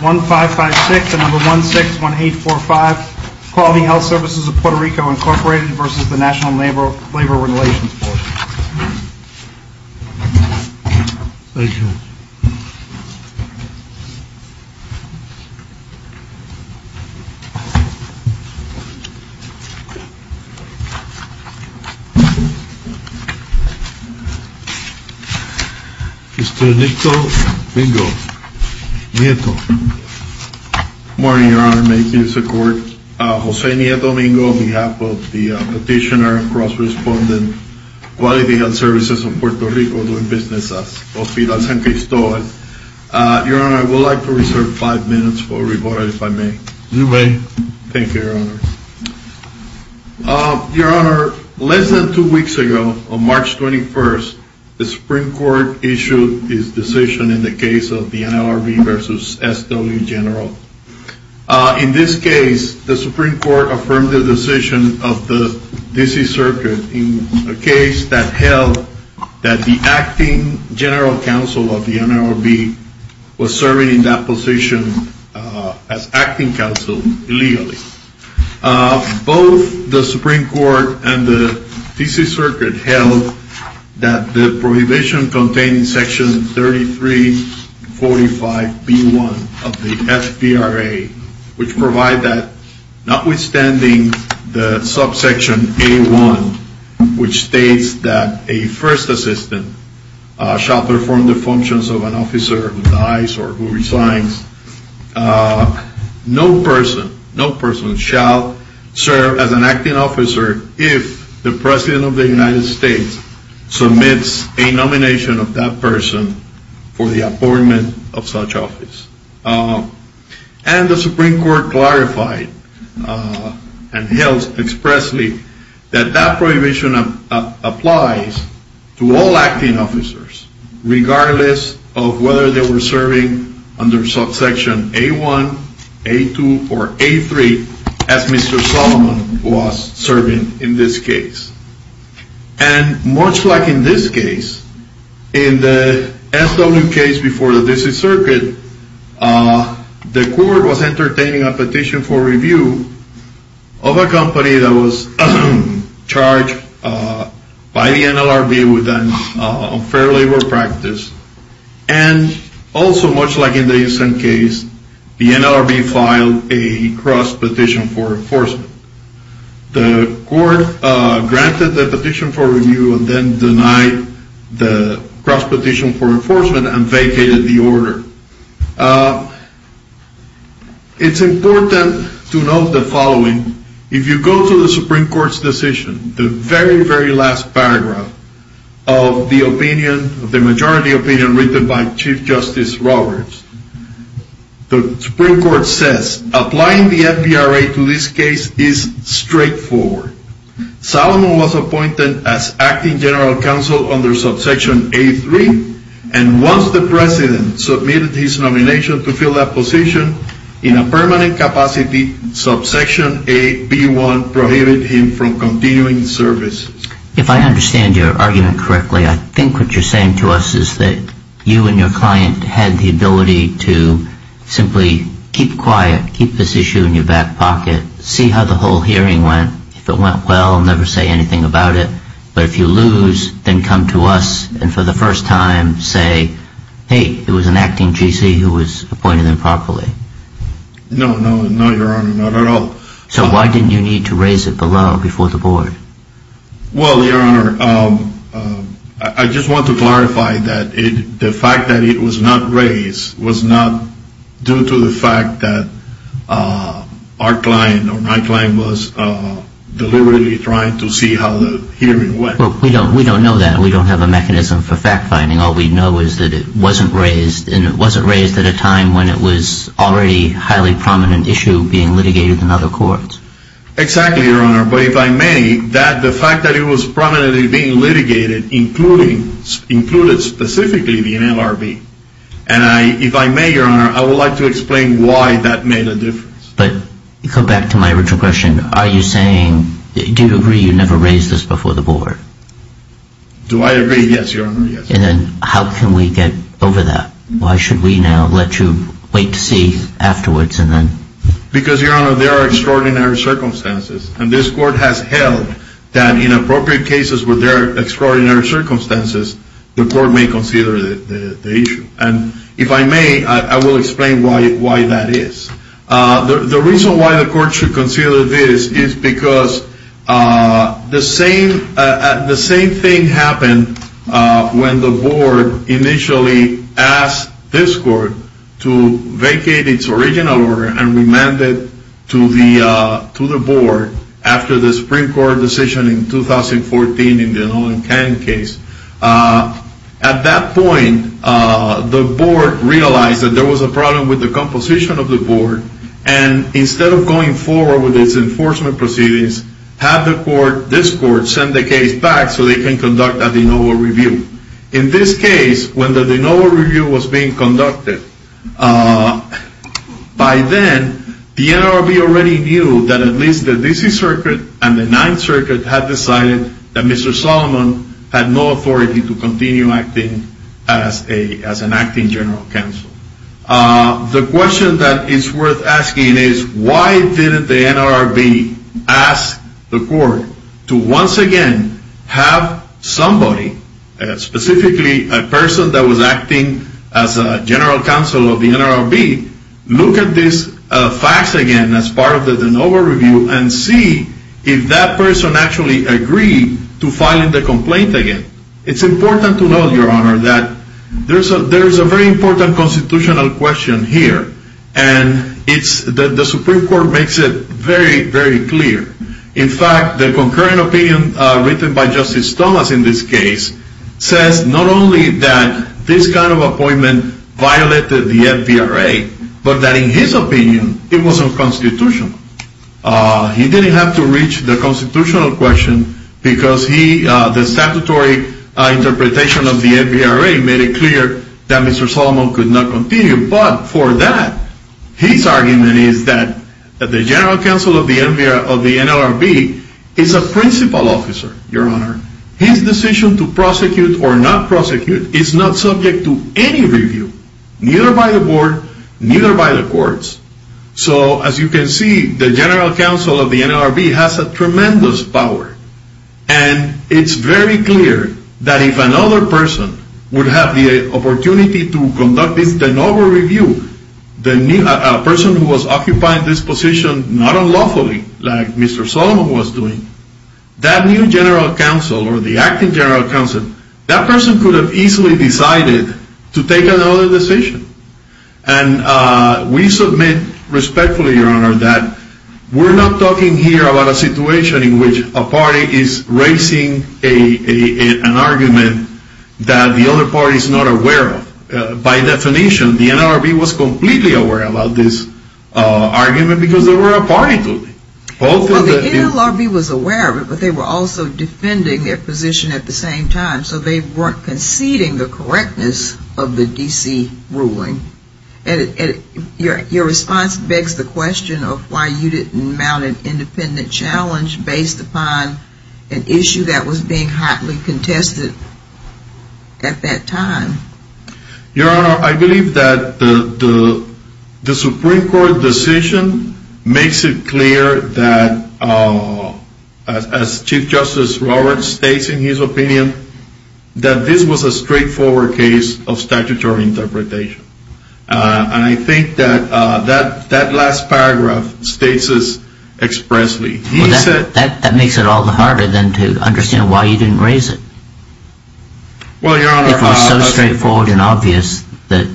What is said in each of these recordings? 1556 and 161845, Quality Health Services of P.R. v. NLRB Thank you. Mr. Nieto, Nieto. Good morning, Your Honor. May it please the Court. Jose Nieto Domingo on behalf of the petitioner and cross-respondent, Quality Health Services of P.R. doing business at Hospital San Cristobal. Your Honor, I would like to reserve five minutes for rebuttal, if I may. You may. Thank you, Your Honor. Your Honor, less than two weeks ago, on March 21st, the Supreme Court issued its decision in the case of the NLRB v. SW General. In this case, the Supreme Court affirmed the decision of the D.C. Circuit in a case that held that the Acting General Counsel of the NLRB was serving in that position as Acting Counsel illegally. Both the Supreme Court and the D.C. Circuit held that the prohibition contained in Section 3345B1 of the F.P.R.A., which provides that notwithstanding the subsection A1, which states that a first assistant shall perform the functions of an officer who dies or who resigns, no person shall serve as an acting officer if the President of the United States submits a nomination of that person for the appointment of such office. And the Supreme Court clarified and held expressly that that prohibition applies to all acting officers, regardless of whether they were serving under subsection A1, A2, or A3, as Mr. Solomon was serving in this case. And much like in this case, in the SW case before the D.C. Circuit, the Court was entertaining a petition for review of a company that was charged by the NLRB with unfair labor practice. And also, much like in the ASAN case, the NLRB filed a cross-petition for enforcement. The Court granted the petition for review and then denied the cross-petition for enforcement and vacated the order. It's important to note the following. If you go to the Supreme Court's decision, the very, very last paragraph of the majority opinion written by Chief Justice Roberts, the Supreme Court says, applying the FVRA to this case is straightforward. Solomon was appointed as acting general counsel under subsection A3, and once the President submitted his nomination to fill that position, in a permanent capacity, subsection AB1 prohibited him from continuing the service. If I understand your argument correctly, I think what you're saying to us is that you and your client had the ability to simply keep quiet, keep this issue in your back pocket, see how the whole hearing went, if it went well, never say anything about it, but if you lose, then come to us and for the first time say, hey, it was an acting G.C. who was appointed improperly. No, no, no, Your Honor, not at all. So why didn't you need to raise it below, before the Board? Well, Your Honor, I just want to clarify that the fact that it was not raised was not due to the fact that our client or my client was deliberately trying to see how the hearing went. We don't know that. We don't have a mechanism for fact-finding. All we know is that it wasn't raised, and it wasn't raised at a time when it was already a highly prominent issue being litigated in other courts. Exactly, Your Honor, but if I may, the fact that it was prominently being litigated included specifically the NLRB, and if I may, Your Honor, I would like to explain why that made a difference. But go back to my original question. Are you saying, do you agree you never raised this before the Board? Do I agree? Yes, Your Honor, yes. And then how can we get over that? Why should we now let you wait to see afterwards and then? Because, Your Honor, there are extraordinary circumstances, and this Court has held that in appropriate cases where there are extraordinary circumstances, the Court may consider the issue. And if I may, I will explain why that is. The reason why the Court should consider this is because the same thing happened when the Board initially asked this Court to vacate its original order and remand it to the Board after the Supreme Court decision in 2014 in the Nolan Caine case. At that point, the Board realized that there was a problem with the composition of the Board, and instead of going forward with its enforcement proceedings, had this Court send the case back so they can conduct a de novo review. In this case, when the de novo review was being conducted, by then, the NLRB already knew that at least the D.C. Circuit and the Ninth Circuit had decided that Mr. Solomon had no authority to continue acting as an acting General Counsel. The question that is worth asking is, why didn't the NLRB ask the Court to once again have somebody, specifically a person that was acting as a General Counsel of the NLRB, look at these facts again as part of the de novo review and see if that person actually agreed to filing the complaint again? It's important to note, Your Honor, that there is a very important constitutional question here, and the Supreme Court makes it very, very clear. In fact, the concurring opinion written by Justice Thomas in this case says not only that this kind of appointment violated the FVRA, but that in his opinion, it was unconstitutional. He didn't have to reach the constitutional question because the statutory interpretation of the FVRA made it clear that Mr. Solomon could not continue. But for that, his argument is that the General Counsel of the NLRB is a principal officer, Your Honor. His decision to prosecute or not prosecute is not subject to any review, neither by the Board, neither by the Courts. So, as you can see, the General Counsel of the NLRB has a tremendous power, and it's very clear that if another person would have the opportunity to conduct this de novo review, a person who was occupying this position not unlawfully, like Mr. Solomon was doing, that new General Counsel or the acting General Counsel, that person could have easily decided to take another decision. And we submit respectfully, Your Honor, that we're not talking here about a situation in which a party is raising an argument that the other party is not aware of. By definition, the NLRB was completely aware about this argument because they were a party to it. Well, the NLRB was aware of it, but they were also defending their position at the same time, so they weren't conceding the correctness of the D.C. ruling. And your response begs the question of why you didn't mount an independent challenge based upon an issue that was being hotly contested at that time. Your Honor, I believe that the Supreme Court decision makes it clear that, as Chief Justice Roberts states in his opinion, that this was a straightforward case of statutory interpretation. And I think that that last paragraph states this expressly. Well, that makes it all the harder then to understand why you didn't raise it. Well, Your Honor... It was so straightforward and obvious that...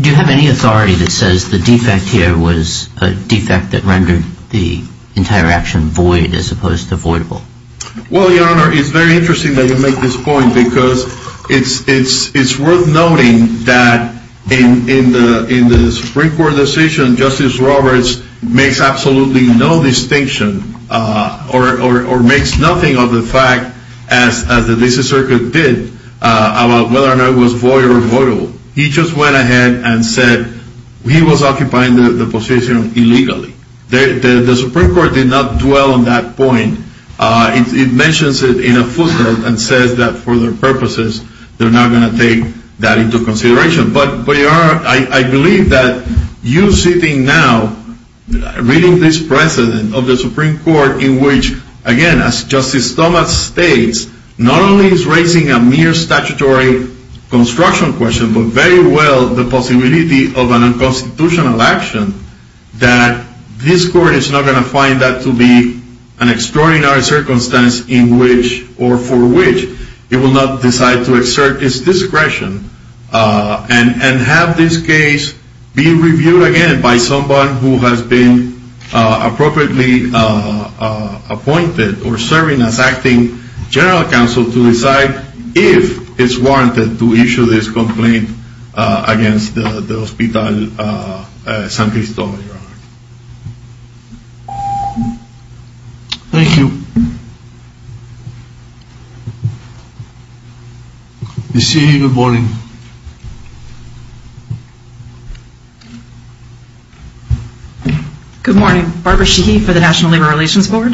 Do you have any authority that says the defect here was a defect that rendered the entire action void as opposed to voidable? Well, Your Honor, it's very interesting that you make this point because it's worth noting that in the Supreme Court decision, Justice Roberts makes absolutely no distinction or makes nothing of the fact, as the D.C. Circuit did, about whether or not it was void or voidable. He just went ahead and said he was occupying the position illegally. The Supreme Court did not dwell on that point. It mentions it in a footnote and says that for their purposes, they're not going to take that into consideration. But, Your Honor, I believe that you sitting now, reading this precedent of the Supreme Court, in which, again, as Justice Thomas states, not only is raising a mere statutory construction question, but very well the possibility of an unconstitutional action, that this Court is not going to find that to be an extraordinary circumstance in which or for which it will not decide to exert its discretion. And have this case be reviewed again by someone who has been appropriately appointed or serving as acting General Counsel to decide if it's warranted to issue this complaint against the Hospital San Cristobal, Your Honor. Thank you. Ms. Sheehy, good morning. Good morning. Barbara Sheehy for the National Labor Relations Board.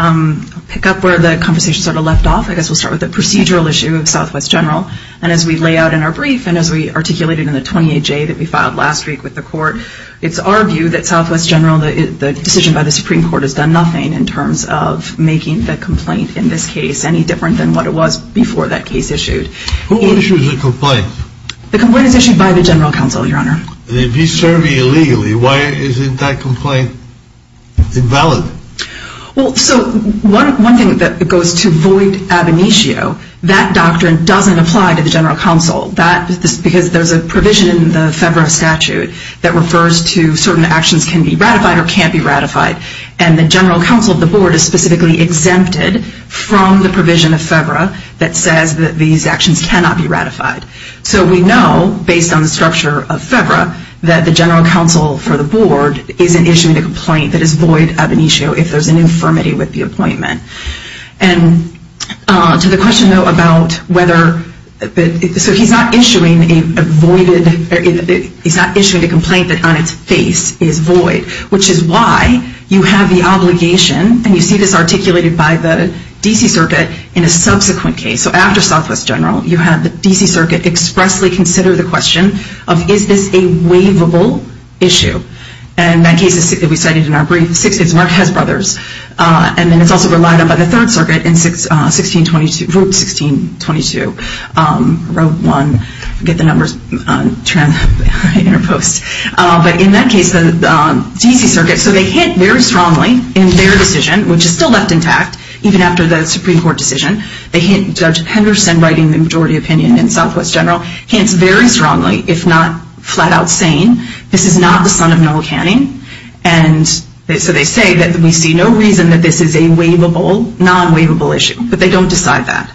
I'll pick up where the conversation sort of left off. I guess we'll start with the procedural issue of Southwest General. And as we lay out in our brief and as we articulated in the 28-J that we filed last week with the Court, it's our view that Southwest General, the decision by the Supreme Court, has done nothing in terms of making the complaint in this case any different than what it was before that case issued. Who issues the complaint? The complaint is issued by the General Counsel, Your Honor. And if he's serving illegally, why isn't that complaint invalid? Well, so one thing that goes to void ab initio, that doctrine doesn't apply to the General Counsel. That's because there's a provision in the FEVRA statute that refers to certain actions can be ratified or can't be ratified. And the General Counsel of the Board is specifically exempted from the provision of FEVRA that says that these actions cannot be ratified. So we know, based on the structure of FEVRA, that the General Counsel for the Board isn't issuing a complaint that is void ab initio if there's an infirmity with the appointment. And to the question, though, about whether, so he's not issuing a voided, he's not issuing a complaint that on its face is void, which is why you have the obligation, and you see this articulated by the D.C. Circuit, in a subsequent case. So after Southwest General, you have the D.C. Circuit expressly consider the question of is this a waivable issue? And that case, as we cited in our brief, the Sixth is Marquez Brothers. And then it's also relied on by the Third Circuit in 1622, Route 1622, Road 1. I forget the numbers. But in that case, the D.C. Circuit, so they hint very strongly in their decision, which is still left intact, even after the Supreme Court decision, they hint, Judge Henderson, writing the majority opinion in Southwest General, hints very strongly, if not flat out, saying this is not the son of Noel Canning. And so they say that we see no reason that this is a waivable, non-waivable issue. But they don't decide that.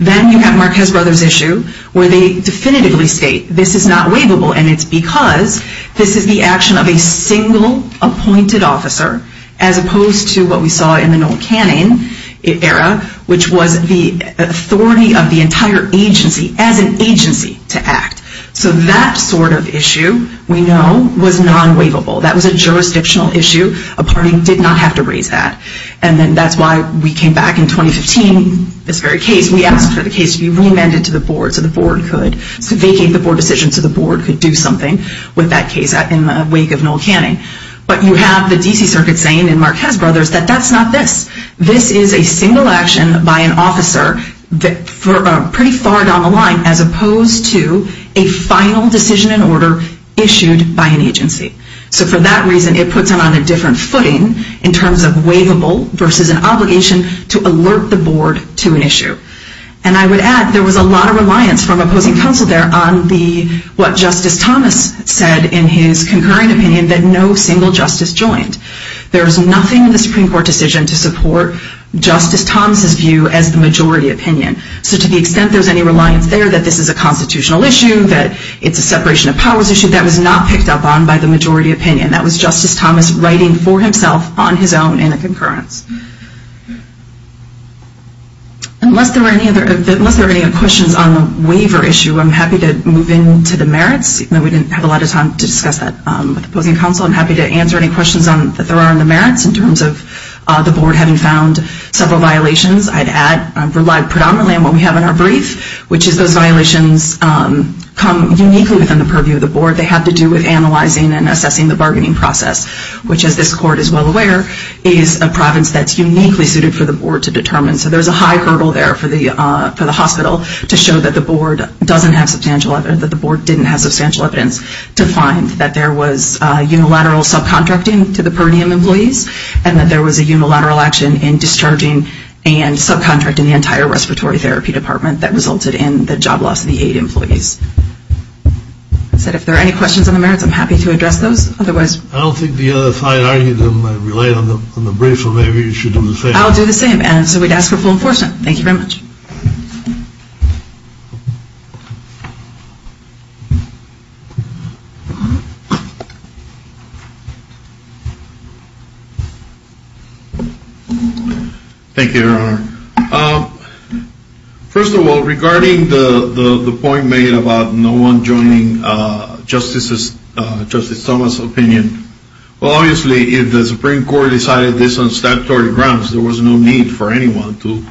Then you have Marquez Brothers' issue, where they definitively state this is not waivable, and it's because this is the action of a single appointed officer, as opposed to what we saw in the Noel Canning era, which was the authority of the entire agency as an agency to act. So that sort of issue, we know, was non-waivable. That was a jurisdictional issue. A party did not have to raise that. And then that's why we came back in 2015, this very case. We asked for the case to be reamended to the board so the board could vacate the board decision so the board could do something with that case in the wake of Noel Canning. But you have the D.C. Circuit saying in Marquez Brothers that that's not this. This is a single action by an officer, pretty far down the line, as opposed to a final decision in order issued by an agency. So for that reason, it puts them on a different footing in terms of waivable versus an obligation to alert the board to an issue. And I would add, there was a lot of reliance from opposing counsel there on what Justice Thomas said in his concurrent opinion that no single justice joined. There was nothing in the Supreme Court decision to support Justice Thomas' view as the majority opinion. So to the extent there was any reliance there that this is a constitutional issue, that it's a separation of powers issue, that was not picked up on by the majority opinion. That was Justice Thomas writing for himself on his own in a concurrence. Unless there are any other questions on the waiver issue, I'm happy to move into the merits. We didn't have a lot of time to discuss that with opposing counsel. I'm happy to answer any questions that there are on the merits in terms of the board having found several violations. I'd add, I've relied predominantly on what we have in our brief, which is those violations come uniquely within the purview of the board. They have to do with analyzing and assessing the bargaining process, which as this court is well aware, is a province that's uniquely suited for the board to determine. So there's a high hurdle there for the hospital to show that the board doesn't have substantial evidence, that the board didn't have substantial evidence, to find that there was unilateral subcontracting to the per diem employees and that there was a unilateral action in discharging and subcontracting the entire respiratory therapy department that resulted in the job loss of the eight employees. As I said, if there are any questions on the merits, I'm happy to address those. I don't think the other side argued them. I relied on the brief, so maybe you should do the same. I'll do the same. And so we'd ask for full enforcement. Thank you very much. Thank you, Your Honor. First of all, regarding the point made about no one joining Justice Thomas' opinion. Well, obviously, if the Supreme Court decided this on statutory grounds, there was no need for anyone to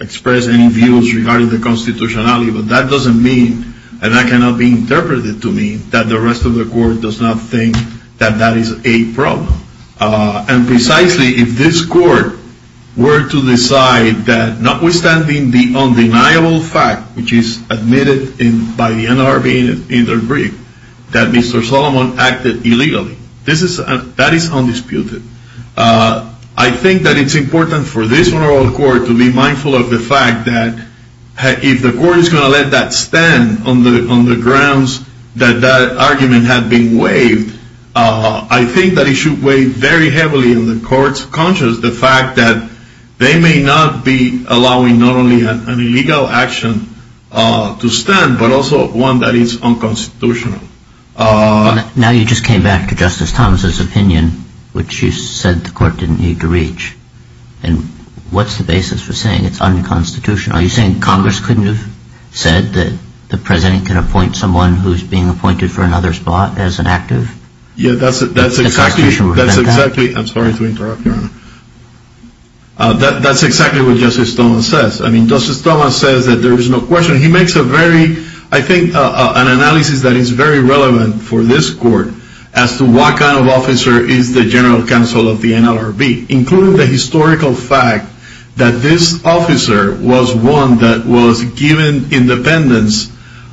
express any views regarding the constitutionality. But that doesn't mean, and that cannot be interpreted to mean, that the rest of the court does not think that that is a problem. And precisely, if this court were to decide that notwithstanding the undeniable fact, which is admitted by the NLRB in their brief, that Mr. Solomon acted illegally, that is undisputed. I think that it's important for this honorable court to be mindful of the fact that if the court is going to let that stand on the grounds that that argument had been waived, I think that it should weigh very heavily on the court's conscience the fact that they may not be allowing not only an illegal action to stand, but also one that is unconstitutional. Now you just came back to Justice Thomas' opinion, which you said the court didn't need to reach. And what's the basis for saying it's unconstitutional? Are you saying Congress couldn't have said that the president can appoint someone who's being appointed for another spot as an active? Yeah, that's exactly what Justice Thomas says. I mean, Justice Thomas says that there is no question. I think an analysis that is very relevant for this court as to what kind of officer is the general counsel of the NLRB, including the historical fact that this officer was one that was given independence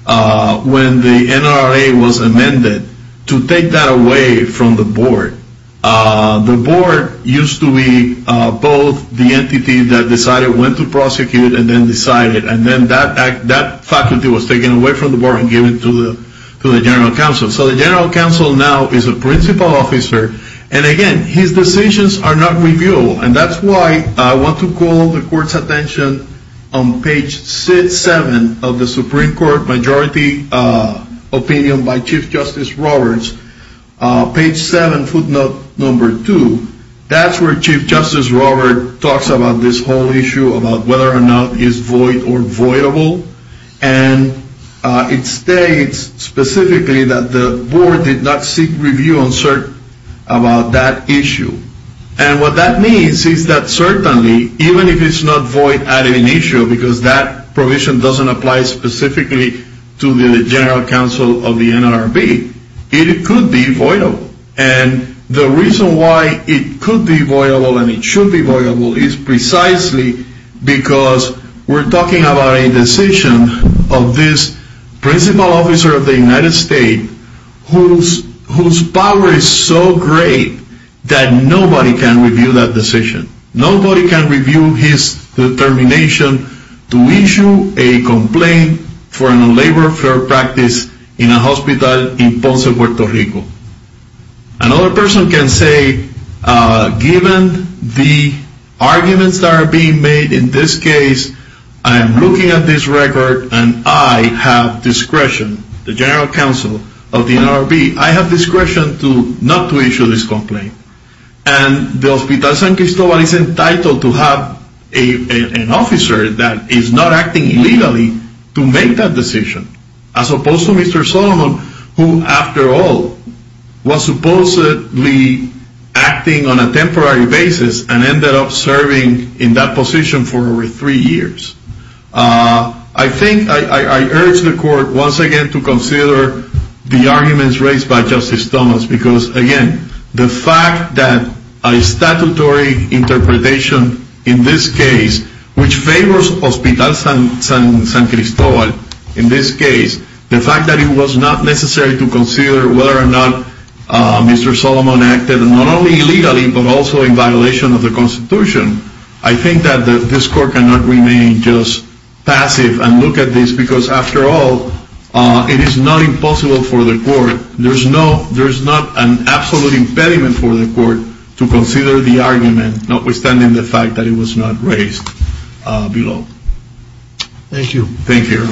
when the NLRA was amended, to take that away from the board. The board used to be both the entity that decided when to prosecute and then decided. And then that faculty was taken away from the board and given to the general counsel. So the general counsel now is a principal officer. And again, his decisions are not reviewable. And that's why I want to call the court's attention on page 7 of the Supreme Court Majority Opinion by Chief Justice Roberts. Page 7, footnote number 2. That's where Chief Justice Roberts talks about this whole issue about whether or not it's void or voidable. And it states specifically that the board did not seek review about that issue. And what that means is that certainly, even if it's not void at an issue, because that provision doesn't apply specifically to the general counsel of the NLRB, it could be voidable. And the reason why it could be voidable and it should be voidable is precisely because we're talking about a decision of this principal officer of the United States whose power is so great that nobody can review that decision. Another person can say, given the arguments that are being made in this case, I am looking at this record and I have discretion, the general counsel of the NLRB, I have discretion not to issue this complaint. And the Hospital San Cristobal is entitled to have an officer that is not acting illegally to make that decision. As opposed to Mr. Solomon, who, after all, was supposedly acting on a temporary basis and ended up serving in that position for over three years. I think I urge the court once again to consider the arguments raised by Justice Thomas. Because again, the fact that a statutory interpretation in this case, which favors Hospital San Cristobal in this case, the fact that it was not necessary to consider whether or not Mr. Solomon acted not only illegally but also in violation of the Constitution. I think that this court cannot remain just passive and look at this because, after all, it is not impossible for the court, there is not an absolute impediment for the court to consider the argument, notwithstanding the fact that it was not raised below. Thank you.